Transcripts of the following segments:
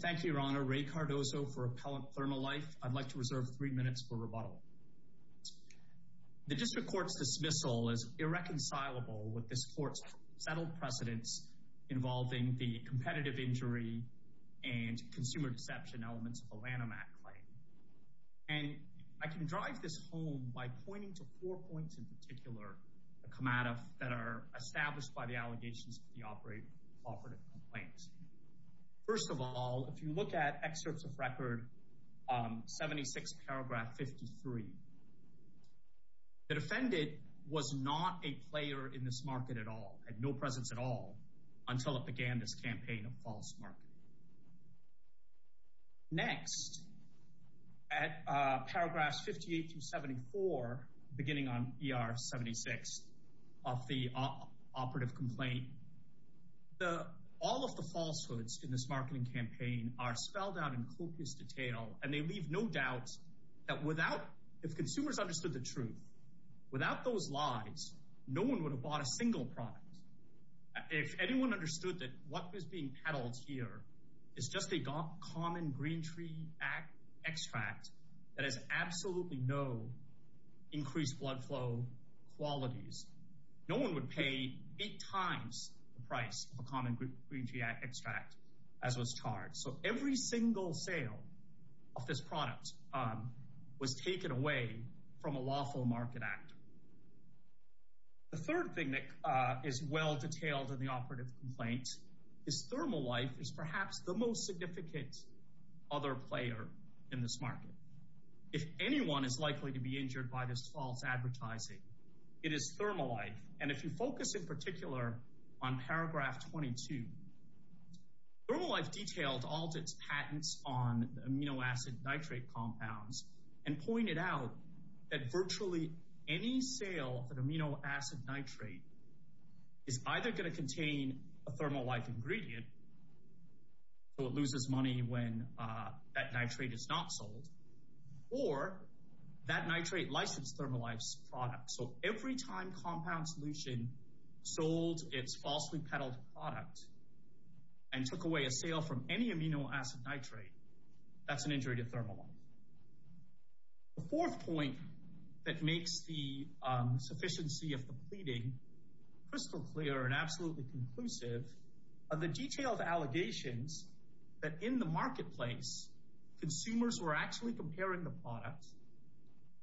Thank you, Your Honor. Ray Cardozo for Appellant Plernolife. I'd like to reserve three minutes for rebuttal. The District Court's dismissal is irreconcilable with this Court's settled precedents involving the competitive injury and consumer deception elements of the Lanham Act claim. And I can drive this home by pointing to four points in particular that come out of that established by the allegations of the operative complaint. First of all, if you look at excerpts of Record 76, paragraph 53, the defendant was not a player in this market at all, had no presence at all, until it began this campaign of false marketing. Next, at paragraphs 58 through 74, beginning on ER 76 of the operative complaint, all of the falsehoods in this marketing campaign are spelled out in copious detail, and they leave no doubt that if consumers understood the truth, without those lies, no one would have bought a single product. If anyone understood that what was being peddled here is just a common green tree extract that has absolutely no increased blood flow qualities, no one would pay eight times the price of a common green tree extract as was charged. So every single sale of this product was taken away from a lawful market actor. The third thing that is well detailed in the operative complaint is thermal life is perhaps the most significant other player in this market. If anyone is likely to be injured by this false advertising, it is thermal life. And if you and pointed out that virtually any sale of an amino acid nitrate is either going to contain a thermal life ingredient, so it loses money when that nitrate is not sold, or that nitrate licensed thermal life's product. So every time Compound Solution sold its falsely peddled product and took away a sale from any amino acid nitrate, that's an injury to thermal life. The fourth point that makes the sufficiency of the pleading crystal clear and absolutely conclusive are the detailed allegations that in the marketplace, consumers were actually comparing the product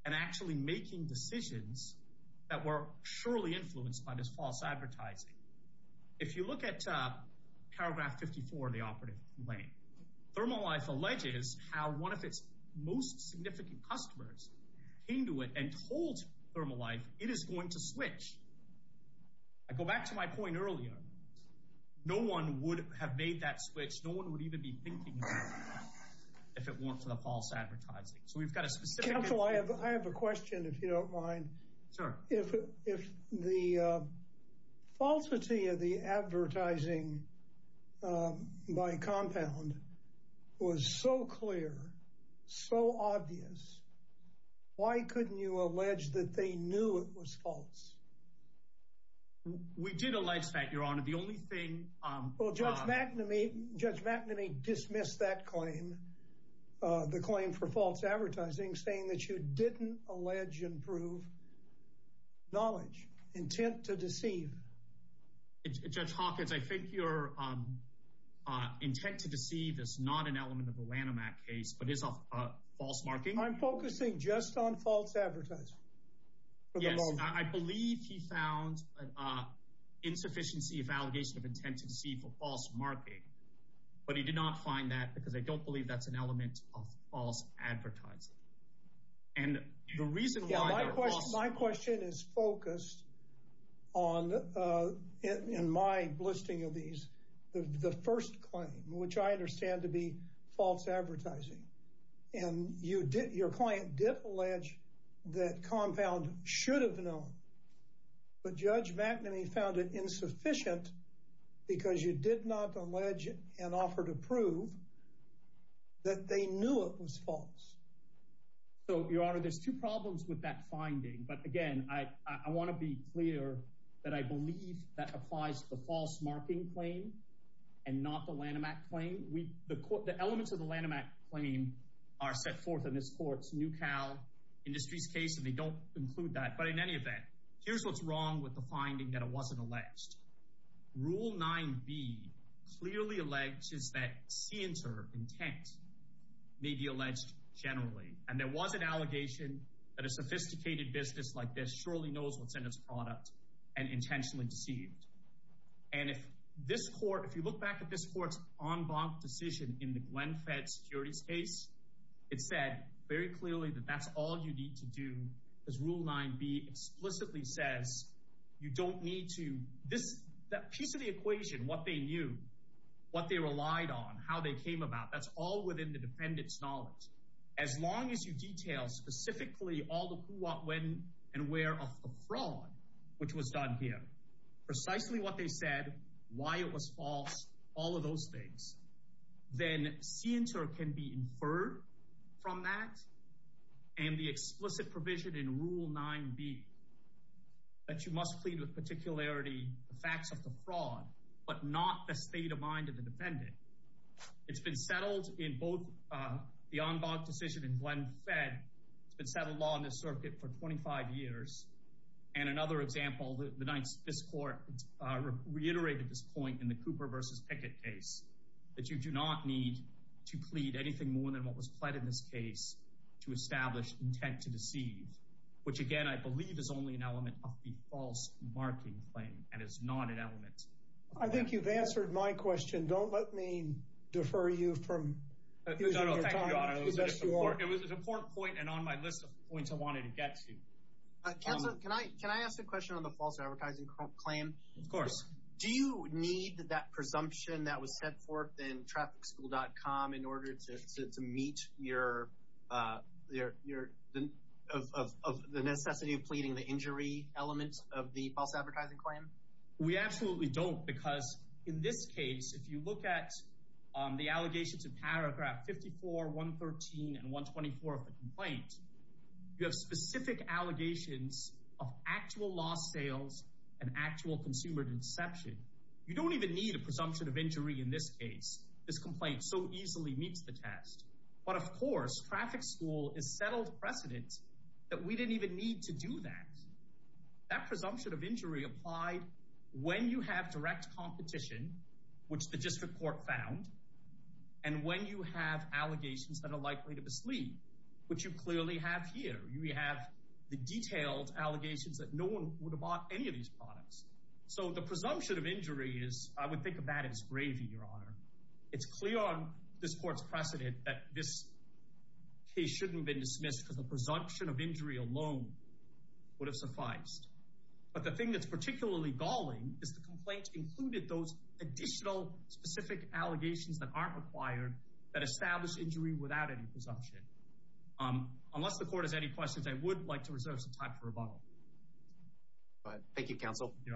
and actually making decisions that were surely influenced by this false advertising. If you look at paragraph 54 of the operative complaint, thermal life alleges how one of its most significant customers came to it and told thermal life it is going to switch. I go back to my point earlier, no one would have made that switch. No one would even be thinking about it if it weren't for the false advertising. So we've got a specific... Counselor, I have a question if you don't mind. Sure. If the falsity of the advertising by Compound was so clear, so obvious, why couldn't you allege that they knew it was false? We did allege that, Your Honor. The only thing... Well, Judge McNamee dismissed that claim, the claim for false advertising, saying that you didn't allege and prove knowledge, intent to deceive. Judge Hawkins, I think your intent to deceive is not an element of the Lanham Act case, but is a false marking. I'm focusing just on false advertising. Yes, I believe he found insufficiency of allegation of intent to deceive for false marking, but he did not find that because I don't believe that's an element of false advertising. And the reason why... My question is focused on, in my listing of these, the first claim, which I understand to be false advertising. And your client did allege that Compound should have known, but Judge McNamee found it insufficient because you did not allege and offer to prove that they knew it was false. So, Your Honor, there's two problems with that finding. But again, I want to be clear that I believe that applies to the false marking claim and not the Lanham Act claim. The elements of the Lanham Act claim are set forth in this court's new Cal Industries case, and they don't include that. But in any event, here's what's wrong with the finding that it alleged. Rule 9B clearly alleges that scienter intent may be alleged generally. And there was an allegation that a sophisticated business like this surely knows what's in its product and intentionally deceived. And if this court, if you look back at this court's en banc decision in the Glenn Fed Securities case, it said very clearly that that's all you need to do, because Rule 9B explicitly says you don't need to. That piece of the equation, what they knew, what they relied on, how they came about, that's all within the defendant's knowledge. As long as you detail specifically all the who, what, when, and where of the fraud, which was done here, precisely what they said, why it was false, all of those things, then scienter can be in Rule 9B, that you must plead with particularity the facts of the fraud, but not the state of mind of the defendant. It's been settled in both the en banc decision in Glenn Fed. It's been settled law in this circuit for 25 years. And another example, this court reiterated this point in the Cooper v. Pickett case, that you do not need to plead anything more than what was pled in this case to establish intent to deceive, which, again, I believe is only an element of the false marking claim and is not an element. I think you've answered my question. Don't let me defer you from using your time. No, no, thank you, Your Honor. It was an important point and on my list of points I wanted to get to. Counsel, can I ask a question on the false advertising claim? Of course. Do you need that presumption that was set forth in TrafficSchool.com in order to meet your of the necessity of pleading the injury element of the false advertising claim? We absolutely don't, because in this case, if you look at the allegations in paragraph 54, 113, and 124 of the complaint, you have specific allegations of actual lost sales and actual consumer deception. You don't even need a presumption of injury in this case. This complaint so easily meets the test. But, of course, Traffic School is settled precedent that we didn't even need to do that. That presumption of injury applied when you have direct competition, which the district court found, and when you have allegations that are likely to mislead, which you clearly have here. You have the detailed allegations that no one would have bought any of these products. So the presumption of injury is, I would think of that as gravy, Your Honor. It's clear on this court's precedent that this case shouldn't have been dismissed because the presumption of injury alone would have sufficed. But the thing that's particularly galling is the complaint included those additional specific allegations that aren't required that establish injury without any presumption. Unless the court has any questions, I would like to hear from you,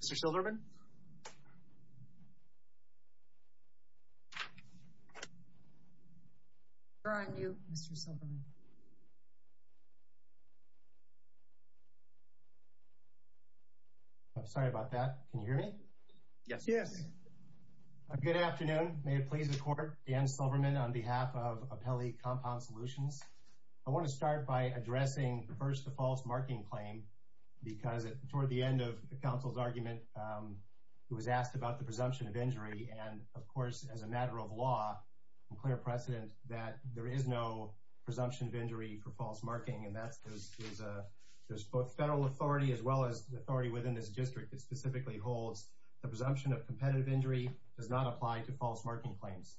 Mr. Silverman. I'm sorry about that. Can you hear me? Yes. Yes. Good afternoon. May it please the court, Dan Silverman on behalf of Apelli Compound Solutions. I want to start by addressing first the false marking claim because toward the end of the counsel's argument, he was asked about the presumption of injury. And of course, as a matter of law, I'm clear of precedent that there is no presumption of injury for false marking. And that's because there's both federal authority as well as authority within this district that specifically holds the presumption of competitive injury does not apply to false marking claims.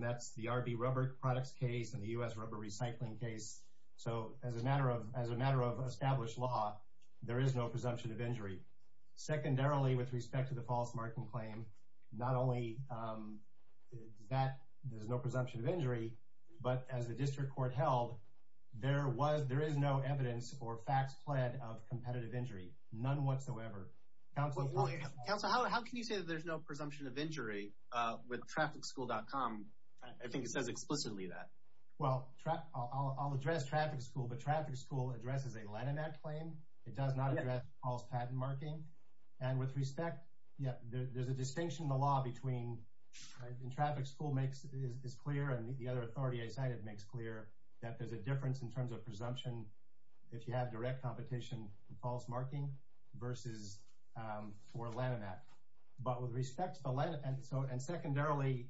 That's the RB rubber products case and the U.S. rubber recycling case. So as a matter of as a matter of established law, there is no presumption of injury. Secondarily, with respect to the false marking claim, not only that there's no presumption of injury, but as the district court held, there was there is no evidence or facts plaid of competitive injury, none whatsoever. Counselor, how can you say that there's no presumption of injury with traffic school dot com? I think it says explicitly that. Well, I'll address traffic school, but traffic school addresses a line in that claim. It does not address false patent marking. And with respect, yeah, there's a distinction in the law between in traffic school makes is clear. And the other authority I cited makes clear that there's a difference in terms of presumption. If you have direct competition, false marking versus four line in that. But with respect to the line. And so and secondarily,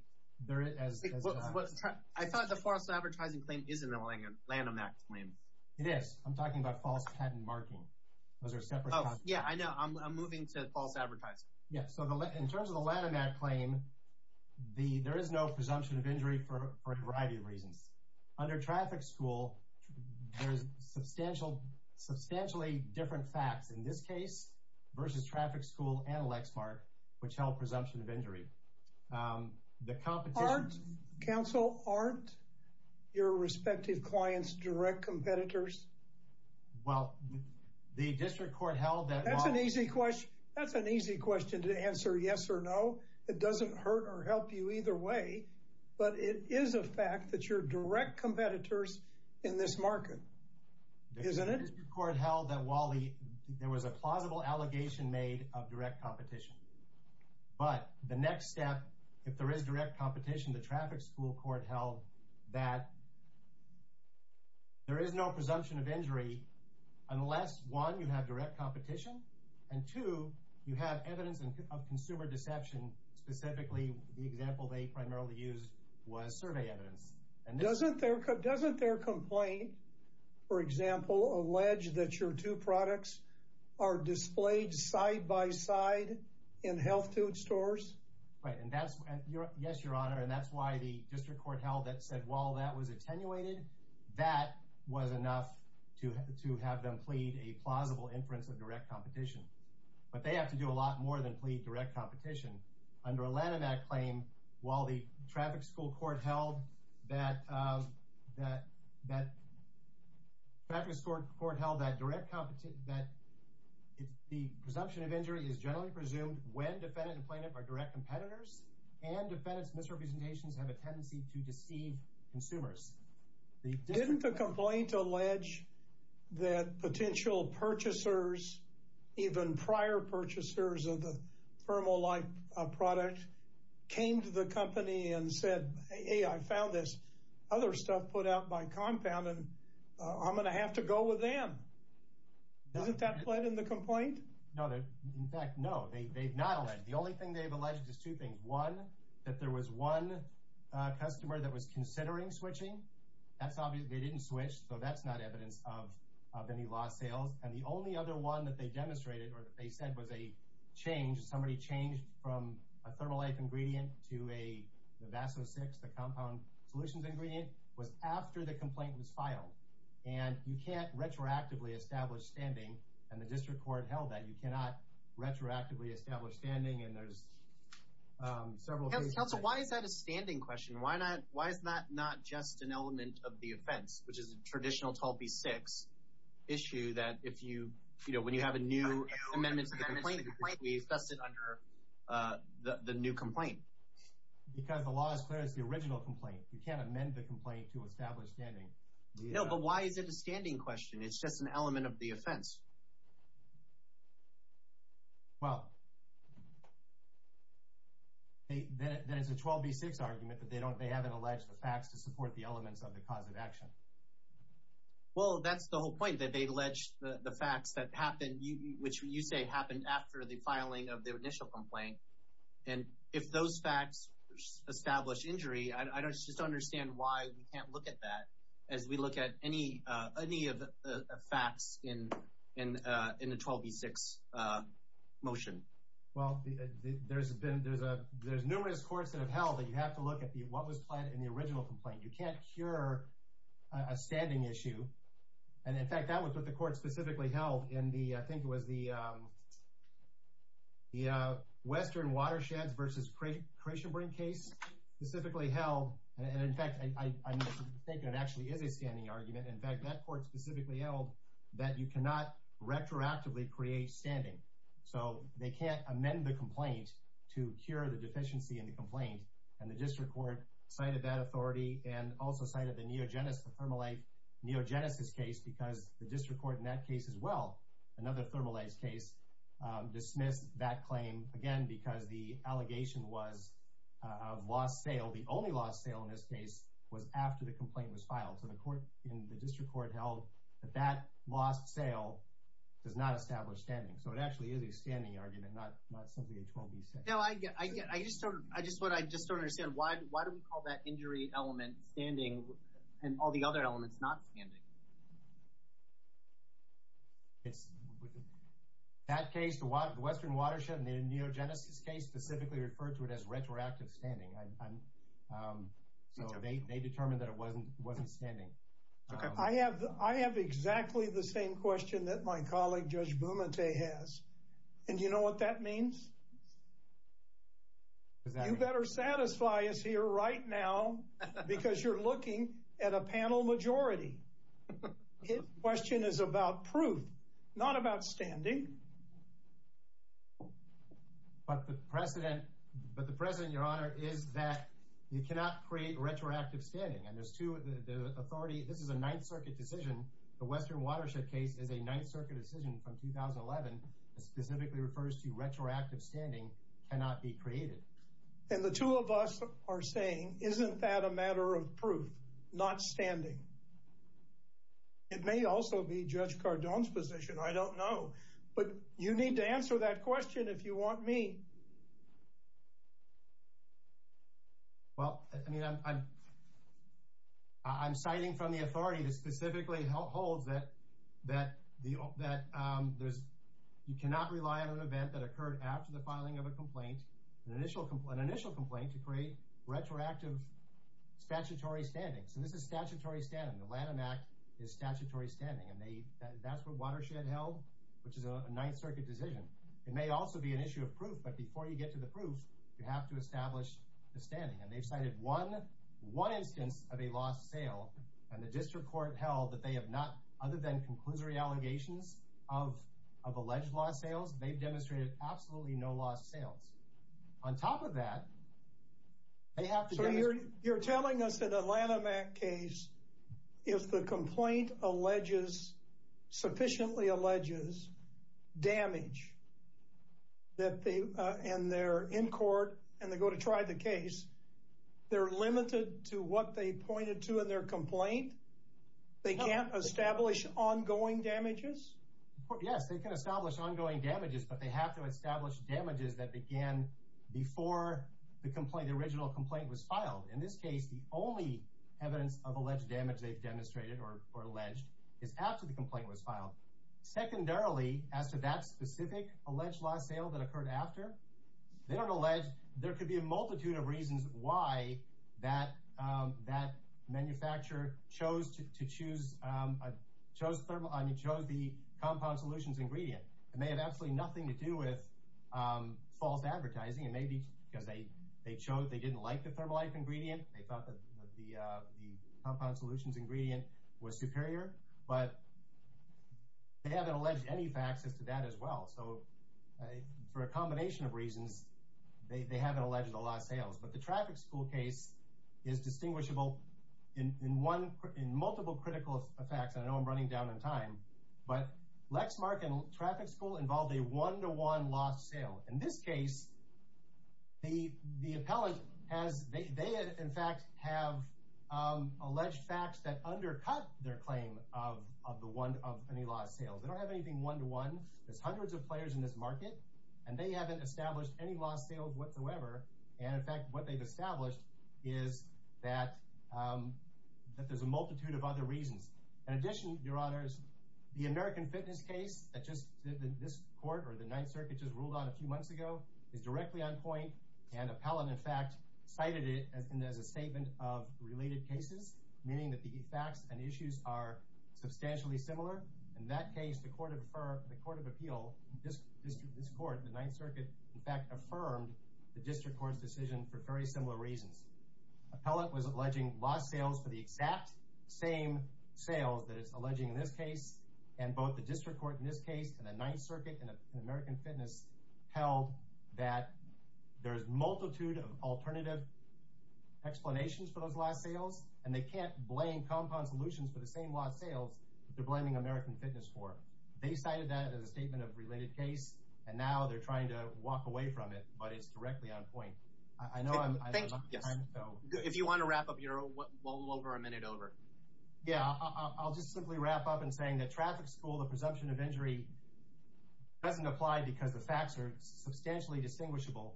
there is what I thought the false advertising claim isn't a land on that claim. It is. I'm talking about false patent marking. Those are separate. Yeah, I know. I'm moving to false advertising. Yeah. So in terms of the land on that claim, the there is no presumption of injury for a variety of reasons. Under traffic school, there is substantial, substantially different facts in this case versus traffic school and competitors. Well, the district court held that that's an easy question. That's an easy question to answer. Yes or no. It doesn't hurt or help you either way. But it is a fact that you're direct competitors in this market, isn't it? Court held that while there was a plausible allegation made of direct competition. But the next step, if there is direct competition, the traffic school court held that there is no presumption of injury unless one, you have direct competition and two, you have evidence of consumer deception. Specifically, the example they primarily used was survey evidence. And doesn't their doesn't their complaint, for example, allege that your two products are displayed side by side in health food stores? Right. Yes, your honor. And that's why the district court held that said while that was attenuated, that was enough to to have them plead a plausible inference of direct competition. But they have to do a lot more than plead direct competition. Under Atlanta, that claim, while the traffic school court held that that that that was scored for it held that direct competition that the presumption of injury is generally presumed when defendant and plaintiff are direct competitors and defendants misrepresentations have a tendency to deceive consumers. The didn't the complaint allege that potential purchasers, even prior purchasers of the thermal like product came to the company and said, hey, I found this other stuff put out by compound and I'm going to have to go with them. Doesn't that lead in the complaint? No, in fact, no, they've not. The only thing they've alleged is two things. One, that there was one customer that was considering switching. That's obvious. They didn't switch. So that's not evidence of of any lost sales. And the only other one that they demonstrated or that they said was a change. Somebody changed from a thermal like ingredient to a vaso six. The compound solutions ingredient was after the complaint was filed. And you can't retroactively establish standing. And the district court held that you cannot retroactively establish standing. And there's several. So why is that a standing question? Why not? Why is that not just an element of the offense, which is a traditional tall B six issue that if you you know, when you have a new amendment to the complaint, we assess it under the new complaint because the law is clear. It's the original complaint. You can't amend the complaint to establish standing. No, but why is it a standing question? It's just an element of the offense. Well, that is a 12 B six argument that they don't they haven't alleged the facts to support the elements of the cause of action. Well, that's the whole point that they've alleged the facts that happened, which you say happened after the filing of the initial complaint. And if those facts establish injury, I don't just understand why we can't look at that as we look at any any of the facts in in in the 12 B six motion. Well, there's been there's a there's numerous courts that have held that you have to look at the what was planned in the original complaint. You can't cure a standing issue. And in fact, that was what the court specifically held in the I think it was the the Western Watersheds versus creation bring case specifically held. And in fact, I think it actually is a standing argument. In fact, that court specifically held that you cannot retroactively create standing. So they can't amend the complaint to cure the deficiency in the complaint. And the district court cited that authority and also cited the neogenesis thermal life neogenesis case because the district court in that case as well. Another thermalized case dismissed that claim, again, because the allegation was of lost sale. The only lost sale in this case was after the complaint was filed to the court in the district court held that that lost sale does not establish standing. So it actually is a standing argument, not not something that won't be said. No, I get I get I just don't I just what I just don't understand why. Why do we call that injury element standing and all the other elements not standing? It's that case, the Western Watershed and the neogenesis case specifically referred to it as retroactive standing. And so they determined that it wasn't wasn't standing. I have I have exactly the same question that my colleague Judge Bumate has. And you know what that means? You better satisfy us here right now, because you're looking at a panel majority. His question is about proof, not about standing. But the precedent, but the precedent, Your Honor, is that you cannot create retroactive standing. And there's two of the authority. This is a Ninth Circuit decision. The Western Watershed case is a Ninth Circuit decision from 2011, specifically refers to retroactive standing cannot be created. And the two of us are saying, isn't that a matter of proof, not standing? It may also be Judge Cardone's position. I don't know. But you need to answer that question if you want me. Well, I mean, I'm I'm citing from the authority that specifically holds that that that there's you cannot rely on an event that occurred after the filing of a complaint, an initial complaint, an initial complaint to create retroactive statutory standing. So this is statutory standing. The Lanham Act is statutory standing. And they that's what Watershed held, which is a Ninth Circuit decision. It may also be an issue of proof. But before you get to the proof, you have to establish the standing. And they've cited one one instance of a lost sale. And the district court held that they have not other than conclusory allegations of of alleged lost sales. They've demonstrated absolutely no lost sales. On top of that, they have to. So you're you're telling us that the Lanham Act case, if the complaint alleges sufficiently alleges damage that they and they're in court and they go to try the case, they're limited to what they pointed to in their complaint. They can't establish ongoing damages. Yes, they can establish ongoing damages, but they have to establish damages that began before the complaint. The original complaint was filed. In this case, the only evidence of alleged damage they've demonstrated or alleged is after the complaint was filed. Secondarily, as to that specific alleged lost sale that occurred after, they don't allege there could be a multitude of reasons why that that manufacturer chose to choose, chose, chose the compound solutions ingredient. It may have absolutely nothing to do with false advertising and maybe because they they chose they didn't like the thermal ingredient. They thought that the compound solutions ingredient was superior, but. They haven't alleged any facts as to that as well. So for a combination of reasons, they haven't alleged a lot of sales, but the traffic school case is distinguishable in one in multiple critical effects. I know I'm running down in time, but Lexmark and traffic school involved a one to one lost sale. In this case. The the appellate has they in fact have alleged facts that undercut their claim of of the one of any lost sales. They don't have anything one to one. There's hundreds of players in this market and they haven't established any lost sales whatsoever. And in fact, what they've established is that that there's a multitude of other reasons. In addition, your honors, the American fitness case that just this court or the Ninth Circuit just ruled on a few months ago is directly on point and appellate. In fact, cited it as a statement of related cases, meaning that the facts and issues are substantially similar. In that case, the court of the Court of Appeal, this court, the Ninth Circuit, in fact, affirmed the district court's decision for very similar reasons. Appellate was alleging lost sales for the exact same sales that it's alleging in this case. And both the district court in this case and the Ninth Circuit and American Fitness held that there's multitude of alternative explanations for those last sales. And they can't blame compound solutions for the same lost sales. They're blaming American Fitness for it. They cited that as a statement of related case. And now they're trying to walk away from it. But it's directly on point. I know. If you want to wrap up your over a minute over. Yeah, I'll just simply wrap up and saying that traffic school, the presumption of injury doesn't apply because the facts are substantially distinguishable.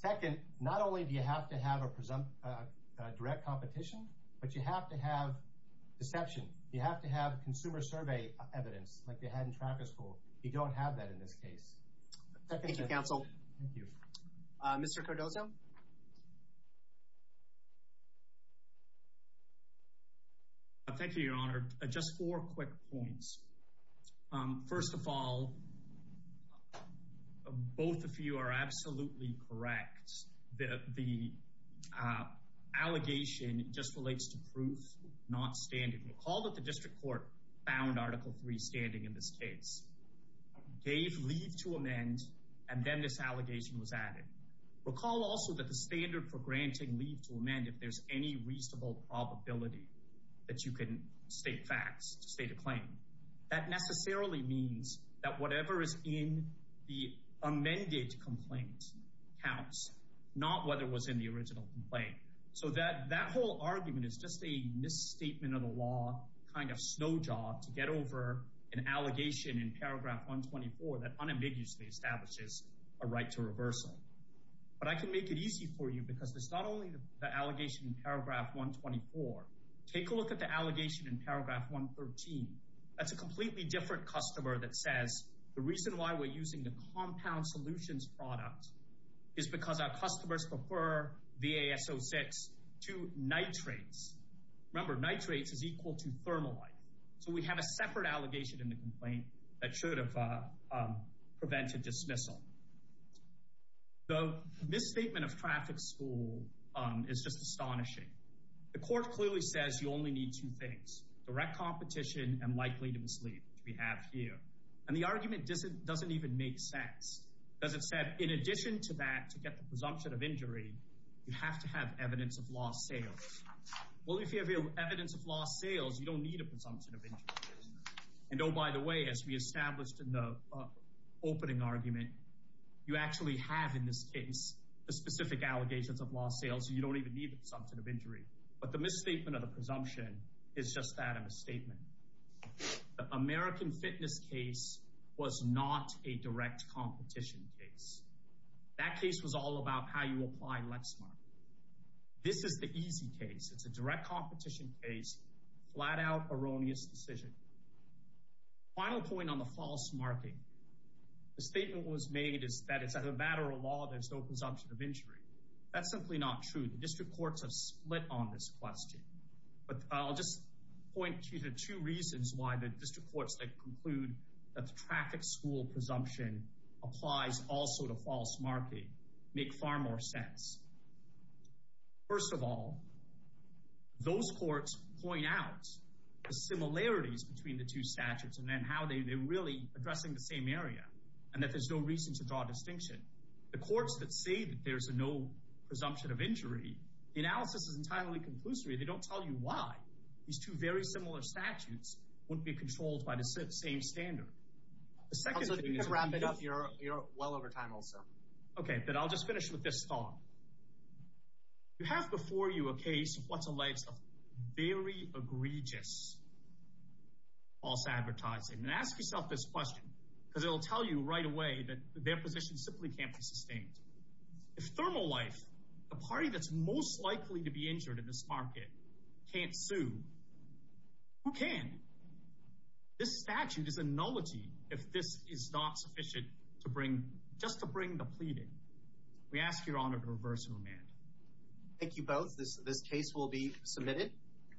Second, not only do you have to have a presumptive direct competition, but you have to have deception. You have to have consumer survey evidence like they had in traffic school. You don't have that in this case. Thank you, counsel. Thank you. Mr. Cardozo. Thank you, Your Honor. Just four quick points. First of all, both of you are absolutely correct. The the allegation just relates to proof not standing. Recall that the district court found Article 3 standing in this case. They leave to amend and then this allegation was added. Recall also that the standard for granting leave to amend if there's any reasonable probability that you can state facts to state a claim. That necessarily means that whatever is in the amended complaint counts, not whether it was in the original complaint. So that that whole argument is just a misstatement of the law kind of snow job to get over an allegation in paragraph 124 that unambiguously establishes a right to reversal. But I can make it easy for you because there's not only the allegation in paragraph 124. Take a look at the allegation in paragraph 113. That's a completely different customer that says the reason why we're using the compound solutions product is because our customers prefer VASO6 to nitrates. Remember, nitrates is equal to preventive dismissal. The misstatement of traffic school is just astonishing. The court clearly says you only need two things, direct competition and likelihood of mislead, which we have here. And the argument doesn't even make sense because it said in addition to that to get the presumption of injury, you have to have evidence of lost sales. Well, if you have evidence of lost sales, you don't need a presumption of injury. And oh, by the way, as we established in the opening argument, you actually have in this case, the specific allegations of lost sales, you don't even need the presumption of injury. But the misstatement of the presumption is just that a misstatement. The American fitness case was not a direct competition case. That case was all about how you apply Lexmark. This is the easy case. It's a direct competition case, flat out erroneous decision. Final point on the false marking. The statement was made is that it's a matter of law. There's no presumption of injury. That's simply not true. The district courts have split on this question. But I'll just point to the two reasons why the district courts that conclude that the traffic school presumption applies also to false marking make far more sense. First of all, those courts point out the similarities between the two statutes and then how they're really addressing the same area and that there's no reason to draw a distinction. The courts that say that there's a no presumption of injury, the analysis is entirely conclusory. They don't tell you why these two very similar statutes wouldn't be controlled by the same standard. The second thing is... You're well over time, also. Okay, but I'll just finish with this one. You have before you a case of what's alleged to be very egregious false advertising. And ask yourself this question because it'll tell you right away that their position simply can't be sustained. If ThermoLife, the party that's most likely to be injured in this market, can't sue, who can? This statute is a nullity if this is not sufficient just to bring the pleading. We ask your honor to reverse command. Thank you both. This case will be submitted.